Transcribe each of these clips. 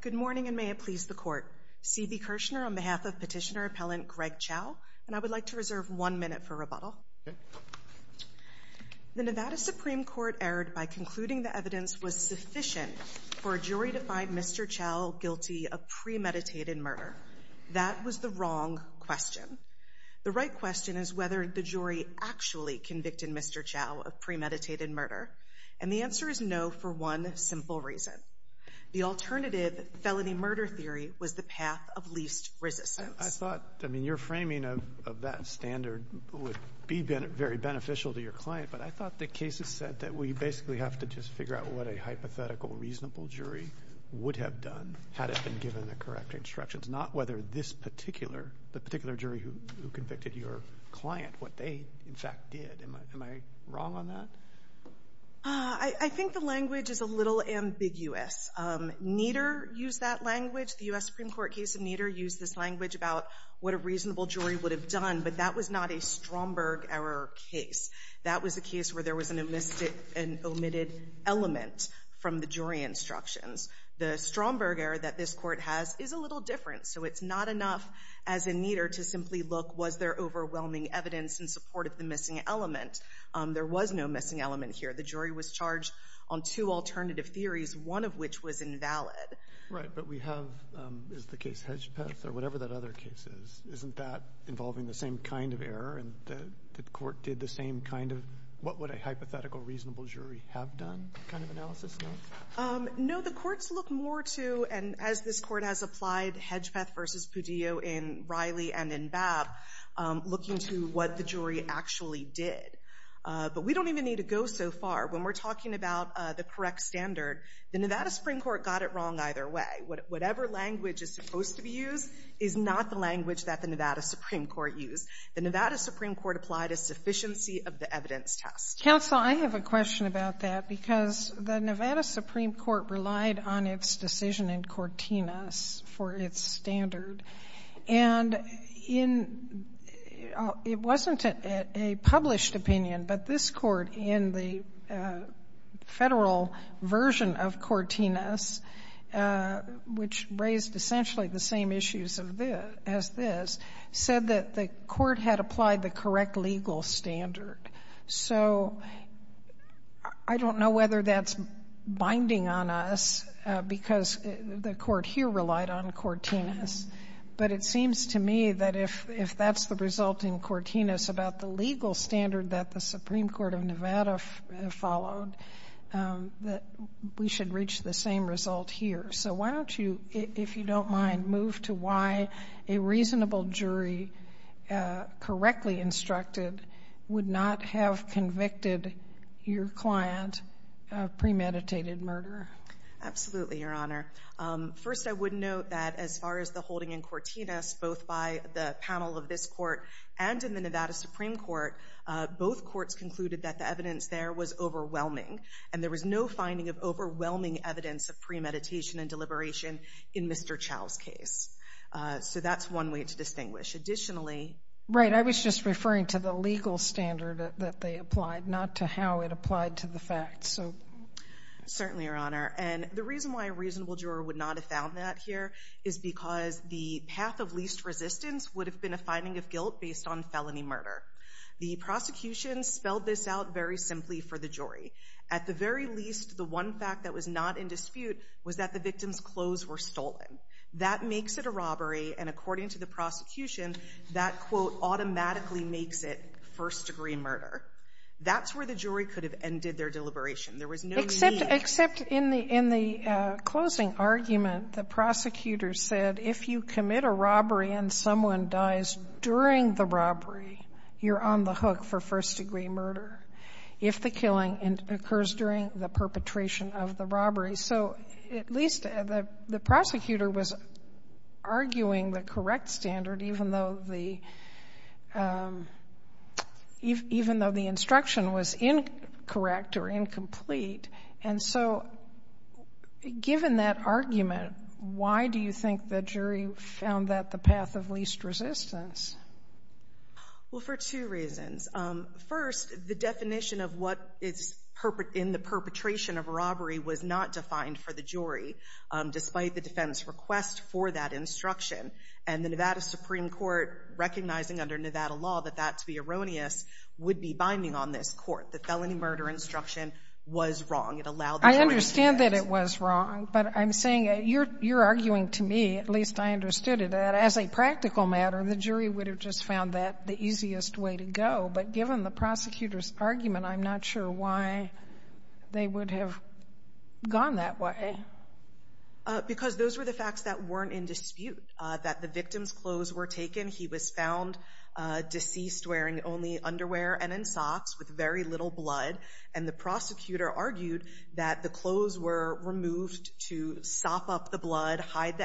Good morning and may it please the court. CB Kirshner on behalf of petitioner appellant Greg Chao and I would like to reserve one minute for rebuttal. The Nevada Supreme Court erred by concluding the evidence was sufficient for a jury to find Mr. Chao guilty of premeditated murder. That was the wrong question. The right question is whether the jury actually convicted Mr. Chao of premeditated murder. And the answer is no for one simple reason. The alternative felony murder theory was the path of least resistance. I thought, I mean, your framing of that standard would be very beneficial to your client. But I thought the cases said that we basically have to just figure out what a hypothetical reasonable jury would have done had it been given the correct instructions, not whether this particular, the particular jury who convicted your client, what they, in fact, did. Am I wrong on that? I think the language is a little ambiguous. Nieder used that language. The U.S. Supreme Court case of Nieder used this language about what a reasonable jury would have done, but that was not a Stromberg error case. That was a case where there was an omitted element from the jury instructions. The Stromberg error that this Court has is a little different. So it's not enough as in Nieder to simply look, was there overwhelming evidence in support of the missing element? There was no missing element here. The jury was charged on two alternative theories, one of which was invalid. Right. But we have, is the case Hedgpeth or whatever that other case is, isn't that involving the same kind of error and the Court did the same kind of, what would a hypothetical reasonable jury have done kind of analysis? No? No. The Courts look more to, and as this Court has applied Hedgpeth versus Pudillo in Riley and in Babb, looking to what the jury actually did. But we don't even need to go so far. When we're talking about the correct standard, the Nevada Supreme Court got it wrong either way. Whatever language is supposed to be used is not the language that the Nevada Supreme Court used. The Nevada Supreme Court applied a sufficiency of the evidence test. Counsel, I have a question about that, because the Nevada Supreme Court relied on its decision in Cortinas for its standard, and in, it wasn't a published opinion, but this Court in the Federal version of Cortinas, which raised essentially the same issues as this, said that the Court had applied the correct legal standard. So I don't know whether that's binding on us, because the Court here relied on Cortinas, but it seems to me that if that's the result in Cortinas about the legal standard that the Supreme Court of Nevada followed, that we should reach the same result here. So why don't you, if you don't mind, move to why a reasonable jury, correctly instructed, would not have convicted your client of premeditated murder? Absolutely, Your Honor. First, I would note that as far as the holding in Cortinas, both by the panel of this Court and in the Nevada Supreme Court, both courts concluded that the evidence there was overwhelming, and there was no finding of overwhelming evidence of premeditated murder and deliberation in Mr. Chau's case. So that's one way to distinguish. Additionally... Right, I was just referring to the legal standard that they applied, not to how it applied to the facts, so... Certainly, Your Honor. And the reason why a reasonable juror would not have found that here is because the path of least resistance would have been a finding of guilt based on felony murder. The prosecution spelled this out very simply for the jury. At the very least, the one fact that was not in dispute was that the victim's clothes were stolen. That makes it a robbery, and according to the prosecution, that, quote, automatically makes it first-degree murder. That's where the jury could have ended their deliberation. There was no need... Except in the closing argument, the prosecutor said if you commit a robbery and someone dies during the robbery, you're on the hook for first-degree murder. If the killing occurs during the perpetration of the robbery. So, at least the prosecutor was arguing the correct standard, even though the... Even though the instruction was incorrect or incomplete. And so, given that argument, why do you think the jury found that the path of least resistance? Well, for two reasons. First, the definition of what is in the perpetration of a robbery was not defined for the jury, despite the defense request for that instruction. And the Nevada Supreme Court, recognizing under Nevada law that that, to be erroneous, would be binding on this court. The felony murder instruction was wrong. It allowed the jury to... I understand that it was wrong, but I'm saying you're arguing to me, at least I understood it, that as a practical matter, the jury would have just found that the easiest way to go. But given the prosecutor's argument, I'm not sure why they would have gone that way. Because those were the facts that weren't in dispute. That the victim's clothes were taken. He was found deceased, wearing only underwear and in socks, with very little blood. And the prosecutor argued that the clothes were removed to sop up the blood, hide the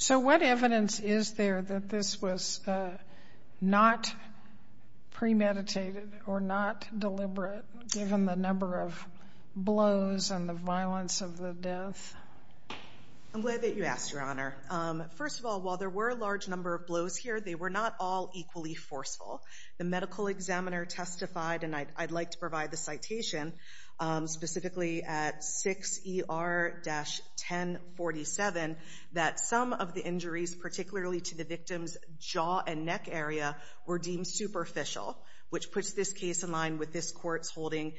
So what evidence is there that this was not premeditated or not deliberate, given the number of blows and the violence of the death? I'm glad that you asked, Your Honor. First of all, while there were a large number of blows here, they were not all equally forceful. The medical examiner testified, and I'd like to provide the citation, specifically at 6ER-1047, that some of the injuries, particularly to the victim's jaw and neck area, were deemed superficial, which puts this case in line with this court's holding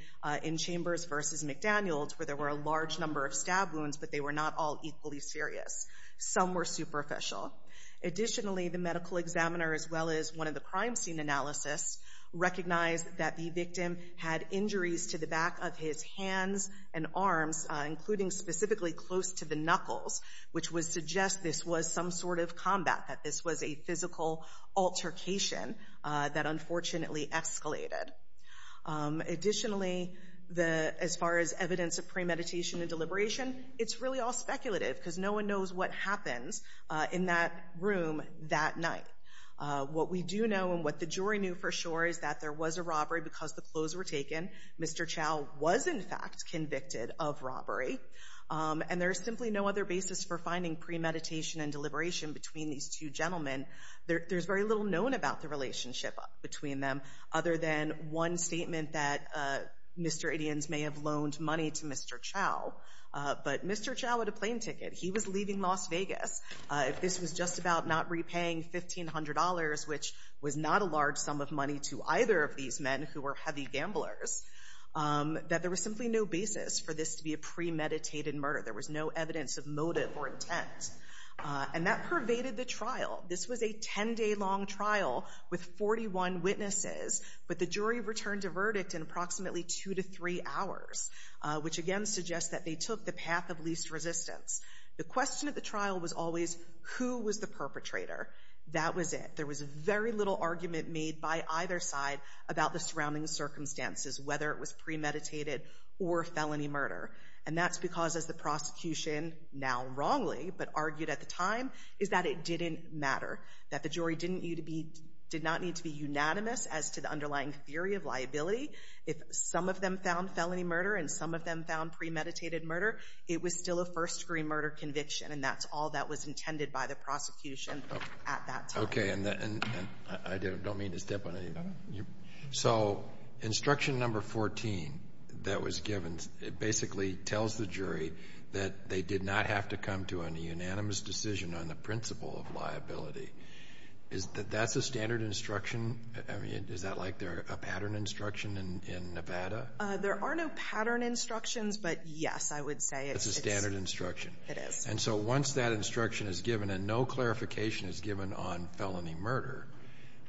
in Chambers v. McDaniels, where there were a large number of stab wounds, but they were not all equally serious. Some were superficial. Additionally, the medical examiner, as well as one of the crime scene analysts, recognized that the victim had injuries to the back of his hands and arms, including specifically close to the knuckles, which would suggest this was some sort of combat, that this was a physical altercation that unfortunately escalated. Additionally, as far as evidence of premeditation and deliberation, it's really all speculative, because no one knows what happens in that room that night. What we do know, and what the jury knew for sure, is that there was a robbery because the clothes were taken. Mr. Chau was, in fact, convicted of robbery. And there's simply no other basis for finding premeditation and deliberation between these two gentlemen. There's very little known about the relationship between them, other than one statement that Mr. Adians may have loaned money to Mr. Chau. But Mr. Chau had a plane ticket. He was leaving Las Vegas. If this was just about not repaying $1,500, which was not a large sum of money to either of these men, who were heavy gamblers, that there was simply no basis for this to be a premeditated murder. There was no evidence of motive or intent. And that pervaded the trial. This was a 10-day-long trial with 41 witnesses, but the jury returned a verdict in approximately two to three hours, which again suggests that they took the path of least resistance. The question at the trial was always, who was the perpetrator? That was it. There was very little argument made by either side about the surrounding circumstances, whether it was premeditated or felony murder. And that's because, as the prosecution, now wrongly, but argued at the time, is that it didn't matter, that the jury didn't need to be, did not need to be unanimous as to the underlying theory of liability. If some of them found felony murder and some of them found premeditated murder, it was still a first-degree murder conviction, and that's all that was intended by the prosecution at that time. Okay. And I don't mean to step on anybody. So instruction number 14 that was given, it basically tells the jury that they did not have to come to a unanimous decision on the principle of liability. Is that that's a standard instruction? I mean, is that like a pattern instruction in Nevada? There are no pattern instructions, but yes, I would say it's a standard instruction. It is. And so once that instruction is given and no clarification is given on felony murder,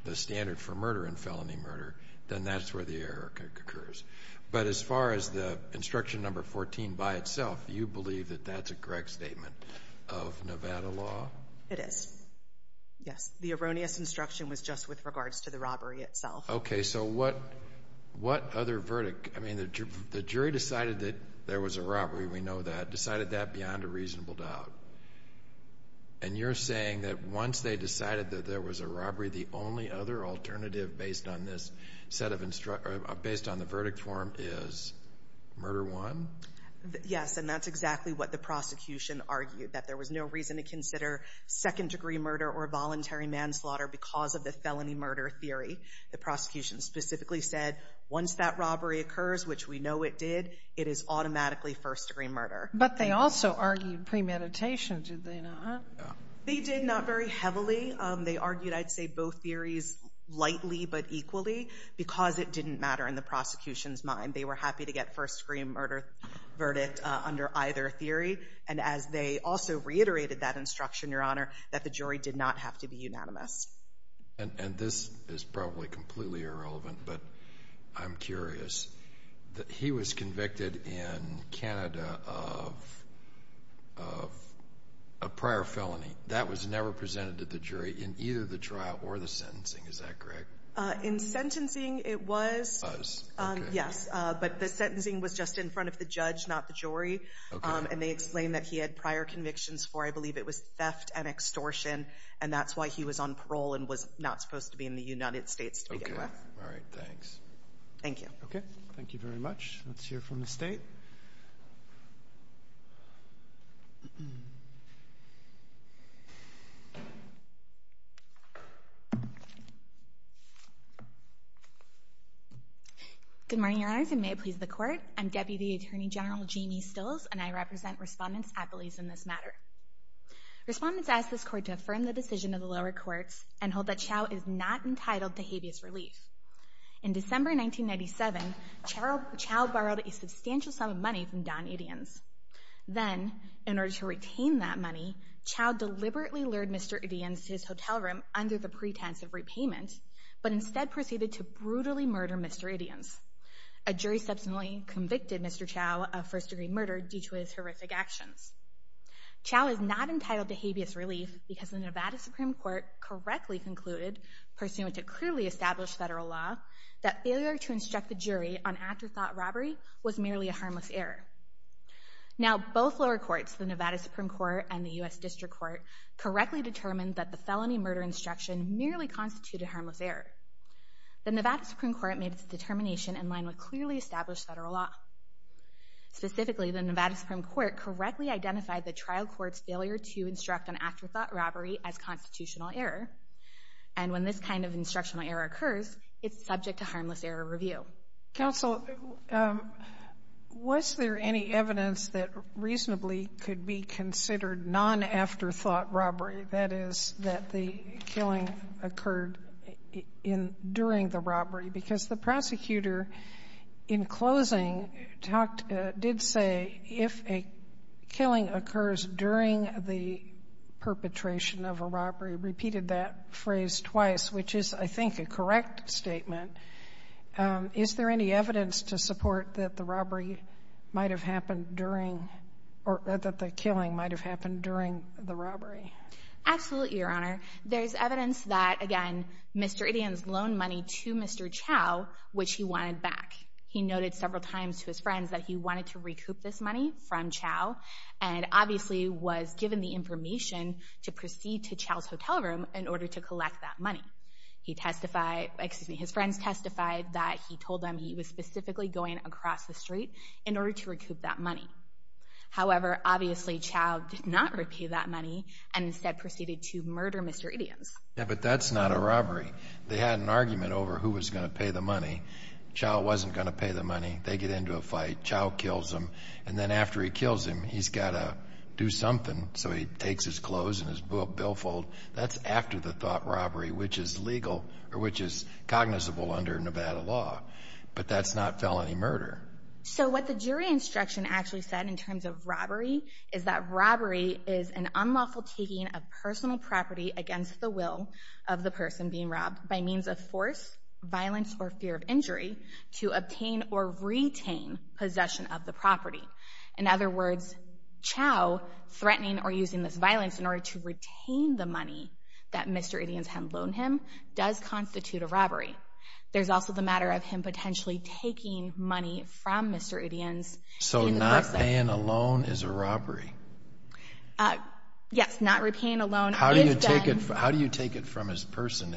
the standard for murder and felony murder, then that's where the error occurs. But as far as the instruction number 14 by itself, you believe that that's a correct statement of Nevada law? It is. Yes. The erroneous instruction was just with regards to the robbery itself. Okay. So what other verdict, I mean, the jury decided that there was a robbery. We know that. Decided that beyond a reasonable doubt. And you're saying that once they decided that there was a robbery, the only other alternative based on this set of instructions, based on the verdict form, is murder one? Yes. And that's exactly what the prosecution argued, that there was no reason to consider second-degree murder or voluntary manslaughter because of the felony murder theory. The prosecution specifically said once that robbery occurs, which we know it did, it is automatically first-degree murder. But they also argued premeditation, did they not? They did not very heavily. They argued, I'd say, both theories lightly but equally because it didn't matter in the prosecution's mind. They were happy to get first-degree murder verdict under either theory. And as they also reiterated that instruction, Your Honor, that the jury did not have to be unanimous. And this is probably completely irrelevant, but I'm curious. He was convicted in Canada of a prior felony. That was never presented to the jury in either the trial or the sentencing, is that correct? In sentencing, it was. It was. Okay. Yes. But the sentencing was just in front of the judge, not the jury. Okay. And they explained that he had prior convictions for, I believe it was theft and extortion, and that's why he was on parole and was not supposed to be in the United States to begin with. Okay. All right. Thanks. Thank you. Okay. Thank you very much. Let's hear from the State. Good morning, Your Honors, and may it please the Court. I'm Deputy Attorney General Jamie Stills, and I represent Respondents at Belize in this matter. Respondents ask this Court to affirm the decision of the lower courts and hold that Chau is not entitled to habeas relief. In December 1997, Chau borrowed a substantial sum of money from Don Idiens. Then, in order to retain that money, Chau deliberately lured Mr. Idiens to his hotel room under the pretense of repayment, but instead proceeded to brutally murder Mr. Idiens. A jury subsequently convicted Mr. Chau of first-degree murder due to his horrific actions. Chau is not entitled to habeas relief because the Nevada Supreme Court correctly concluded pursuant to clearly established federal law, that failure to instruct the jury on afterthought robbery was merely a harmless error. Now, both lower courts, the Nevada Supreme Court and the U.S. District Court, correctly determined that the felony murder instruction merely constituted harmless error. The Nevada Supreme Court made its determination in line with clearly established federal law. Specifically, the Nevada Supreme Court correctly identified the trial court's failure to instruct an afterthought robbery as constitutional error. And when this kind of instructional error occurs, it's subject to harmless error review. Sotomayor, was there any evidence that reasonably could be considered non-afterthought robbery, that is, that the killing occurred during the robbery? Because the prosecutor, in closing, talked — did say, if a killing occurs during the perpetration of a robbery, repeated that phrase twice, which is, I think, a correct statement. Is there any evidence to support that the robbery might have happened during — or that the killing might have happened during the robbery? Absolutely, Your Honor. There's evidence that, again, Mr. Ittian's loaned money to Mr. Chau, which he wanted back. He noted several times to his friends that he wanted to recoup this money from Chau, and obviously was given the information to proceed to Chau's hotel room in order to collect that money. He testified — excuse me, his friends testified that he told them he was specifically going across the street in order to recoup that money. However, obviously, Chau did not repay that money and instead proceeded to murder Mr. Ittian's. Yeah, but that's not a robbery. They had an argument over who was going to pay the money. Chau wasn't going to pay the money. They get into a fight. Chau kills him. And then after he kills him, he's got to do something. So he takes his clothes and his billfold. That's after-the-thought robbery, which is legal — or which is cognizable under Nevada law. But that's not felony murder. So what the jury instruction actually said in terms of robbery is that robbery is an unlawful taking of personal property against the will of the person being robbed by means of force, violence, or fear of injury to obtain or retain possession of the property. In other words, Chau threatening or using this violence in order to retain the money that Mr. Ittian's had loaned him does constitute a robbery. There's also the matter of him potentially taking money from Mr. Ittian's. So not paying a loan is a robbery? Yes, not repaying a loan is done — How do you take it from his person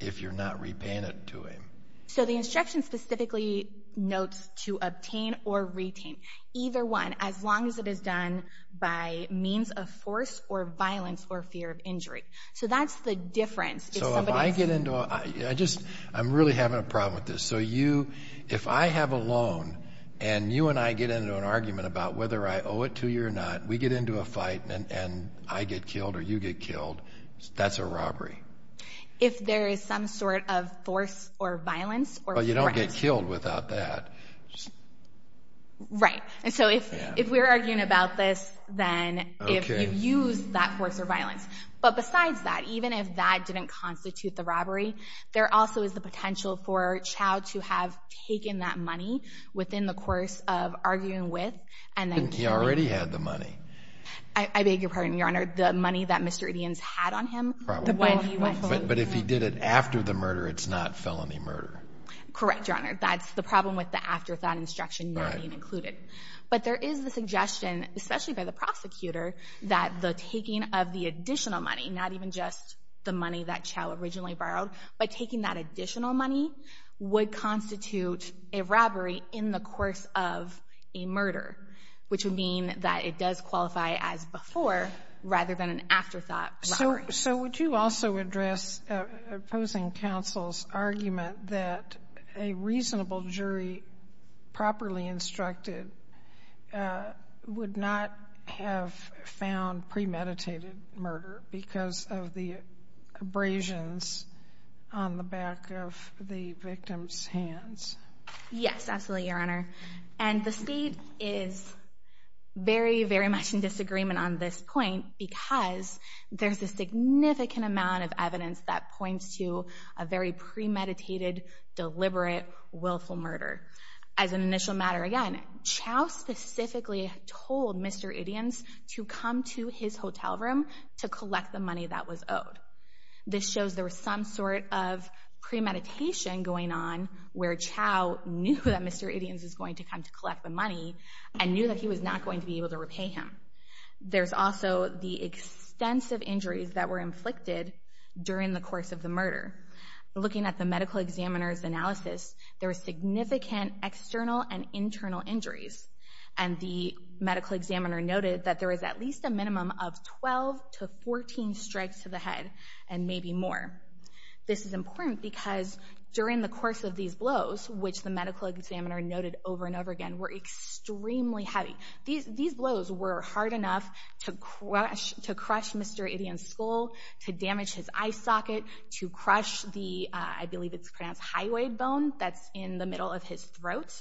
if you're not repaying it to him? So the instruction specifically notes to obtain or retain either one as long as it is done by means of force or violence or fear of injury. So that's the difference. So if I get into a — I just — I'm really having a problem with this. So you — if I have a loan and you and I get into an argument about whether I owe it to you or not, we get into a fight and I get killed or you get killed, that's a robbery? If there is some sort of force or violence or threat. But you don't get killed without that. Right. And so if we're arguing about this, then if you use that force or violence. But besides that, even if that didn't constitute the robbery, there also is the potential for Chau to have taken that money within the course of arguing with and then — He already had the money. I beg your pardon, Your Honor. The money that Mr. Ittian's had on him? Probably. But if he did it after the murder, it's not felony murder? Correct, Your Honor. That's the problem with the afterthought instruction not being included. But there is the suggestion, especially by the prosecutor, that the taking of the additional money, not even just the money that Chau originally borrowed, but taking that additional money would constitute a robbery in the course of a murder, which would mean that it does qualify as before rather than an afterthought robbery. So would you also address opposing counsel's argument that a reasonable jury properly instructed would not have found premeditated murder because of the abrasions on the back of the victim's hands? Yes, absolutely, Your Honor. And the State is very, very much in disagreement on this point because there's a significant amount of evidence that points to a very premeditated, deliberate, willful murder. As an initial matter, again, Chau specifically told Mr. Ittian's to come to his hotel room to collect the money that was owed. This shows there was some sort of premeditation going on where Chau knew that Mr. Ittian's going to come to collect the money and knew that he was not going to be able to repay him. There's also the extensive injuries that were inflicted during the course of the murder. Looking at the medical examiner's analysis, there were significant external and internal injuries, and the medical examiner noted that there was at least a minimum of 12 to 14 strikes to the head and maybe more. This is important because during the course of these blows, which the medical examiner noted over and over again, were extremely heavy. These blows were hard enough to crush Mr. Ittian's skull, to damage his eye socket, to crush the, I believe it's pronounced highway bone that's in the middle of his throat.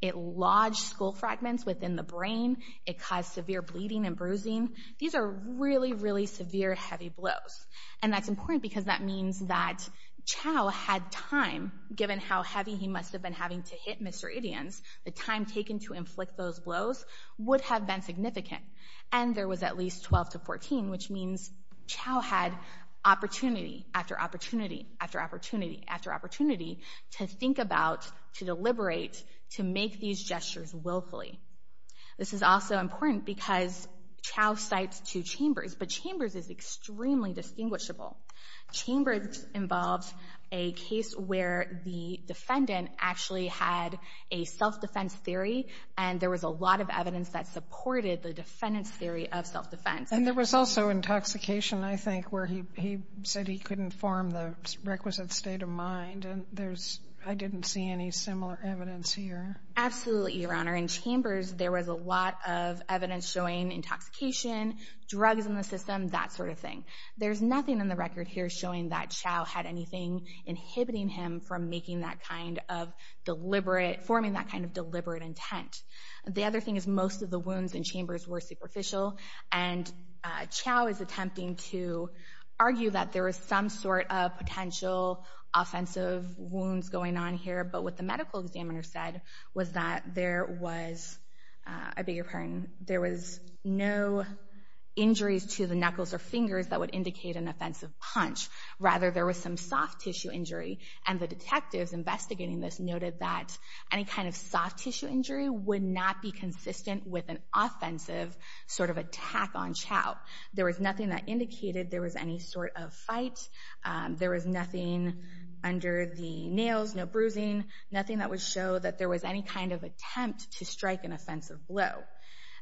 It lodged skull fragments within the brain. It caused severe bleeding and bruising. These are really, really severe, heavy blows. And that's important because that means that Chau had time, given how heavy he must have been having to hit Mr. Ittian, the time taken to inflict those blows would have been significant. And there was at least 12 to 14, which means Chau had opportunity after opportunity after opportunity after opportunity to think about, to deliberate, to make these gestures willfully. This is also important because Chau cites two chambers, but chambers is extremely distinguishable. Chambers involves a case where the defendant actually had a self-defense theory and there was a lot of evidence that supported the defendant's theory of self-defense. And there was also intoxication, I think, where he said he couldn't form the requisite state of mind. And there's, I didn't see any similar evidence here. Absolutely, Your Honor. In chambers, there was a lot of evidence showing intoxication, drugs in the system, that sort of thing. There's nothing in the record here showing that Chau had anything inhibiting him from making that kind of deliberate, forming that kind of deliberate intent. The other thing is most of the wounds in chambers were superficial. And Chau is attempting to argue that there was some sort of potential offensive wounds going on here. But what the medical examiner said was that there was, I beg your pardon, there was no injuries to the knuckles or fingers that would indicate an offensive punch. Rather, there was some soft tissue injury. And the detectives investigating this noted that any kind of soft tissue injury would not be consistent with an offensive sort of attack on Chau. There was nothing that indicated there was any sort of fight. There was nothing under the nails, no bruising. Nothing that would show that there was any kind of attempt to strike an offensive blow.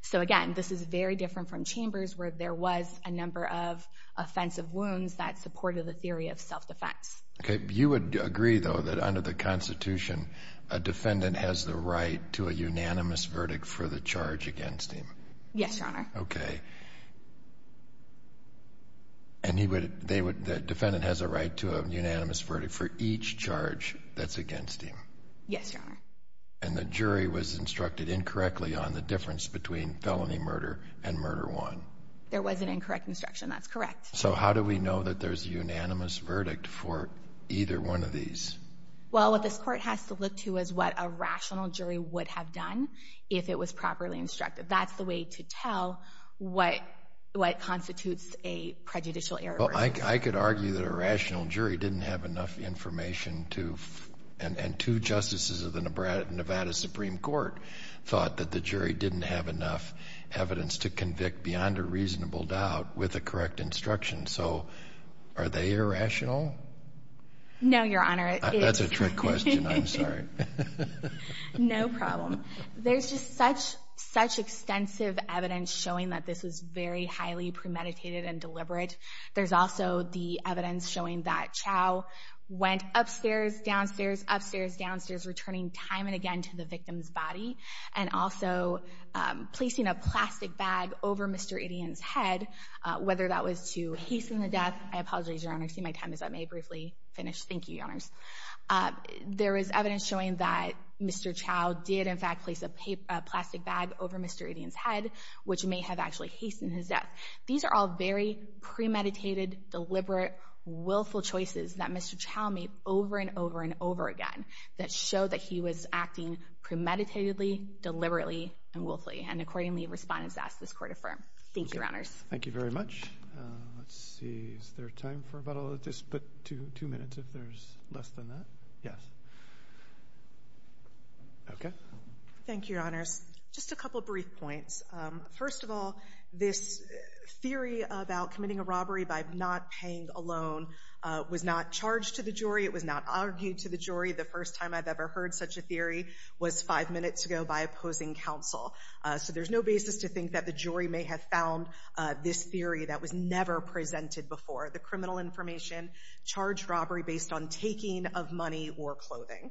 So again, this is very different from chambers where there was a number of offensive wounds that supported the theory of self-defense. Okay. You would agree, though, that under the Constitution, a defendant has the right to a unanimous verdict for the charge against him? Yes, Your Honor. Okay. And he would, they would, the defendant has a right to a unanimous verdict for each charge that's against him? Yes, Your Honor. And the jury was instructed incorrectly on the difference between felony murder and murder one? There was an incorrect instruction. That's correct. So how do we know that there's a unanimous verdict for either one of these? Well, what this Court has to look to is what a rational jury would have done if it was properly instructed. That's the way to tell what constitutes a prejudicial error. Well, I could argue that a rational jury didn't have enough information to, and two justices of the Nevada Supreme Court thought that the jury didn't have enough evidence to convict beyond a reasonable doubt with a correct instruction. So are they irrational? No, Your Honor. That's a trick question. I'm sorry. No problem. There's just such, such extensive evidence showing that this was very highly premeditated and deliberate. There's also the evidence showing that Chau went upstairs, downstairs, upstairs, downstairs, returning time and again to the victim's body and also placing a plastic bag over Mr. Idion's head, whether that was to hasten the death. I apologize, Your Honor. See, my time is up. May I briefly finish? Thank you, Your Honors. There is evidence showing that Mr. Chau did, in fact, place a plastic bag over Mr. Idion's head, which may have actually hastened his death. These are all very premeditated, deliberate, willful choices that Mr. Chau made over and over and over again that show that he was acting premeditatedly, deliberately, and willfully. And accordingly, respondents ask this Court affirm. Thank you, Your Honors. Thank you very much. Let's see. Is there time for about all of this, but two minutes if there's less than that? Yes. Okay. Thank you, Your Honors. Just a couple brief points. to the jury. It was not argued to the jury. The first time I've ever heard such a theory was five minutes ago by opposing counsel. So there's no basis to think that the jury may have found this theory that was never presented before. The criminal information charged robbery based on taking of money or clothing.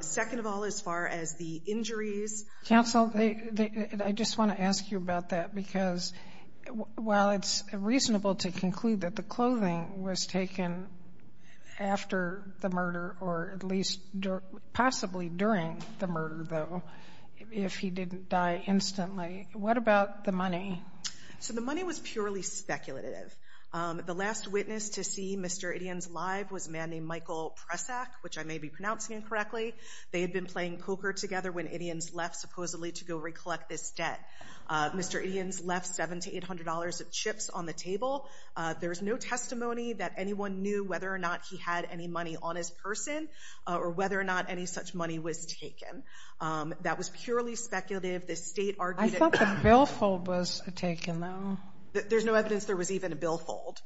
Second of all, as far as the injuries. Counsel, I just want to ask you about that, because while it's reasonable to conclude that the clothing was taken after the murder, or at least possibly during the murder, though, if he didn't die instantly, what about the money? So the money was purely speculative. The last witness to see Mr. Ittians live was a man named Michael Presak, which I may be pronouncing incorrectly. They had been playing poker together when Ittians left, supposedly to go recollect this debt. Mr. Ittians left $700 to $800 of chips on the table. There's no testimony that anyone knew whether or not he had any money on his person, or whether or not any such money was taken. That was purely speculative. The State argued that. I thought the billfold was taken, though. There's no evidence there was even a billfold.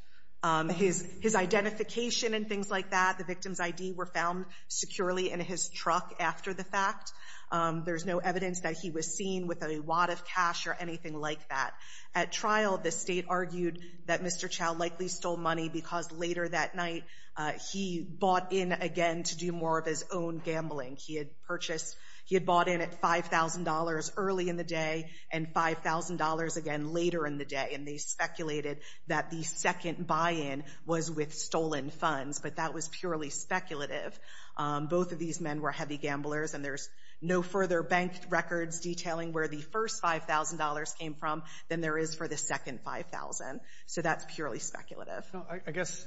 His identification and things like that, the victim's ID, were found securely in his truck after the fact. There's no evidence that he was seen with a wad of cash or anything like that. At trial, the State argued that Mr. Chow likely stole money because later that night he bought in again to do more of his own gambling. He had purchased, he had bought in at $5,000 early in the day and $5,000 again later in the day, and they speculated that the second buy-in was with stolen funds. But that was purely speculative. Both of these men were heavy gamblers, and there's no further bank records detailing where the first $5,000 came from than there is for the second $5,000. So that's purely speculative. No, I guess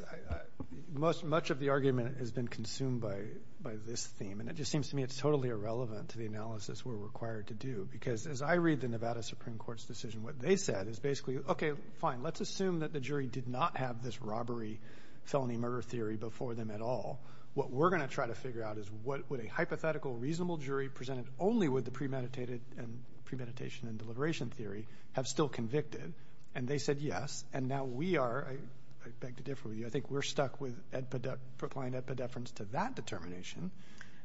much of the argument has been consumed by this theme, and it just seems to me it's totally irrelevant to the analysis we're required to do, because as I read the Nevada Supreme Court's decision, what they said is basically, okay, fine, let's assume that the jury did not have this robbery-felony-murder theory before them at all. What we're going to try to figure out is what would a hypothetical, reasonable jury presented only with the premeditated and premeditation and deliberation theory have still convicted. And they said yes. And now we are, I beg to differ with you, I think we're stuck with applying epidefference to that determination.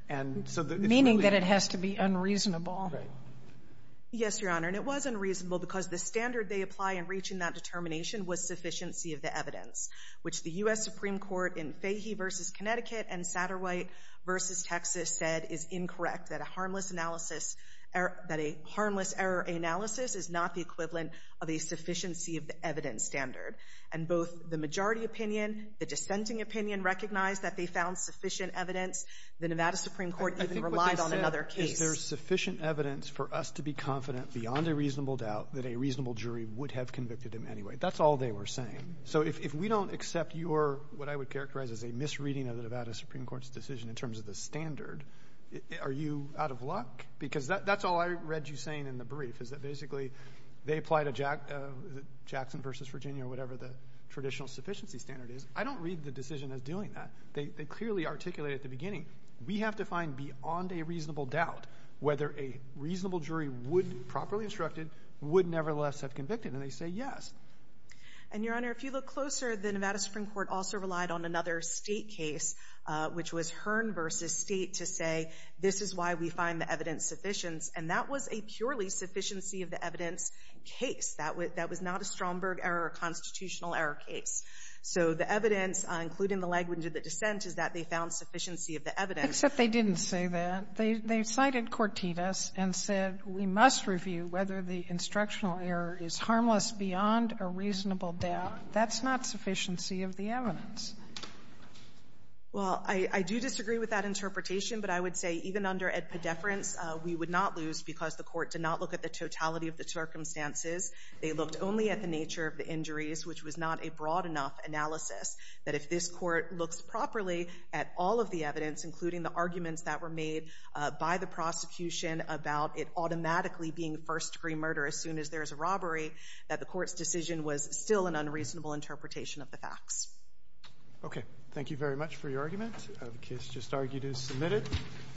And so it's really unreasonable. Meaning that it has to be unreasonable. Right. Yes, Your Honor. And it was unreasonable because the standard they apply in reaching that determination was sufficiency of the evidence, which the U.S. Supreme Court in Fahey v. Connecticut and Satterwhite v. Texas said is incorrect, that a harmless analysis or that a harmless error analysis is not the equivalent of a sufficiency of the evidence standard. And both the majority opinion, the dissenting opinion recognized that they found sufficient evidence. The Nevada Supreme Court even relied on another case. I think what they said is there's sufficient evidence for us to be confident beyond a reasonable doubt that a reasonable jury would have convicted him anyway. That's all they were saying. So if we don't accept your, what I would characterize as a misreading of the Nevada Supreme Court's decision in terms of the standard, are you out of luck? Because that's all I read you saying in the brief is that basically they apply to Jackson v. Virginia or whatever the traditional sufficiency standard is. I don't read the decision as doing that. They clearly articulated at the beginning, we have to find beyond a reasonable doubt whether a reasonable jury would, properly instructed, would nevertheless have convicted. And they say yes. And, Your Honor, if you look closer, the Nevada Supreme Court also relied on another State case, which was Hearn v. State, to say this is why we find the evidence sufficient. And that was a purely sufficiency of the evidence case. That was not a Stromberg error or constitutional error case. So the evidence, including the language of the dissent, is that they found sufficiency of the evidence. Except they didn't say that. They cited Cortitas and said we must review whether the instructional error is harmless beyond a reasonable doubt. That's not sufficiency of the evidence. Well, I do disagree with that interpretation. But I would say even under ad pediferens, we would not lose because the Court did not look at the totality of the circumstances. They looked only at the nature of the injuries, which was not a broad enough analysis that if this Court looks properly at all of the evidence, including the arguments that were made by the prosecution about it automatically being first-degree murder as soon as there is a robbery, that the Court's decision was still an unreasonable interpretation of the facts. Okay. Thank you very much for your argument. The case just argued is submitted.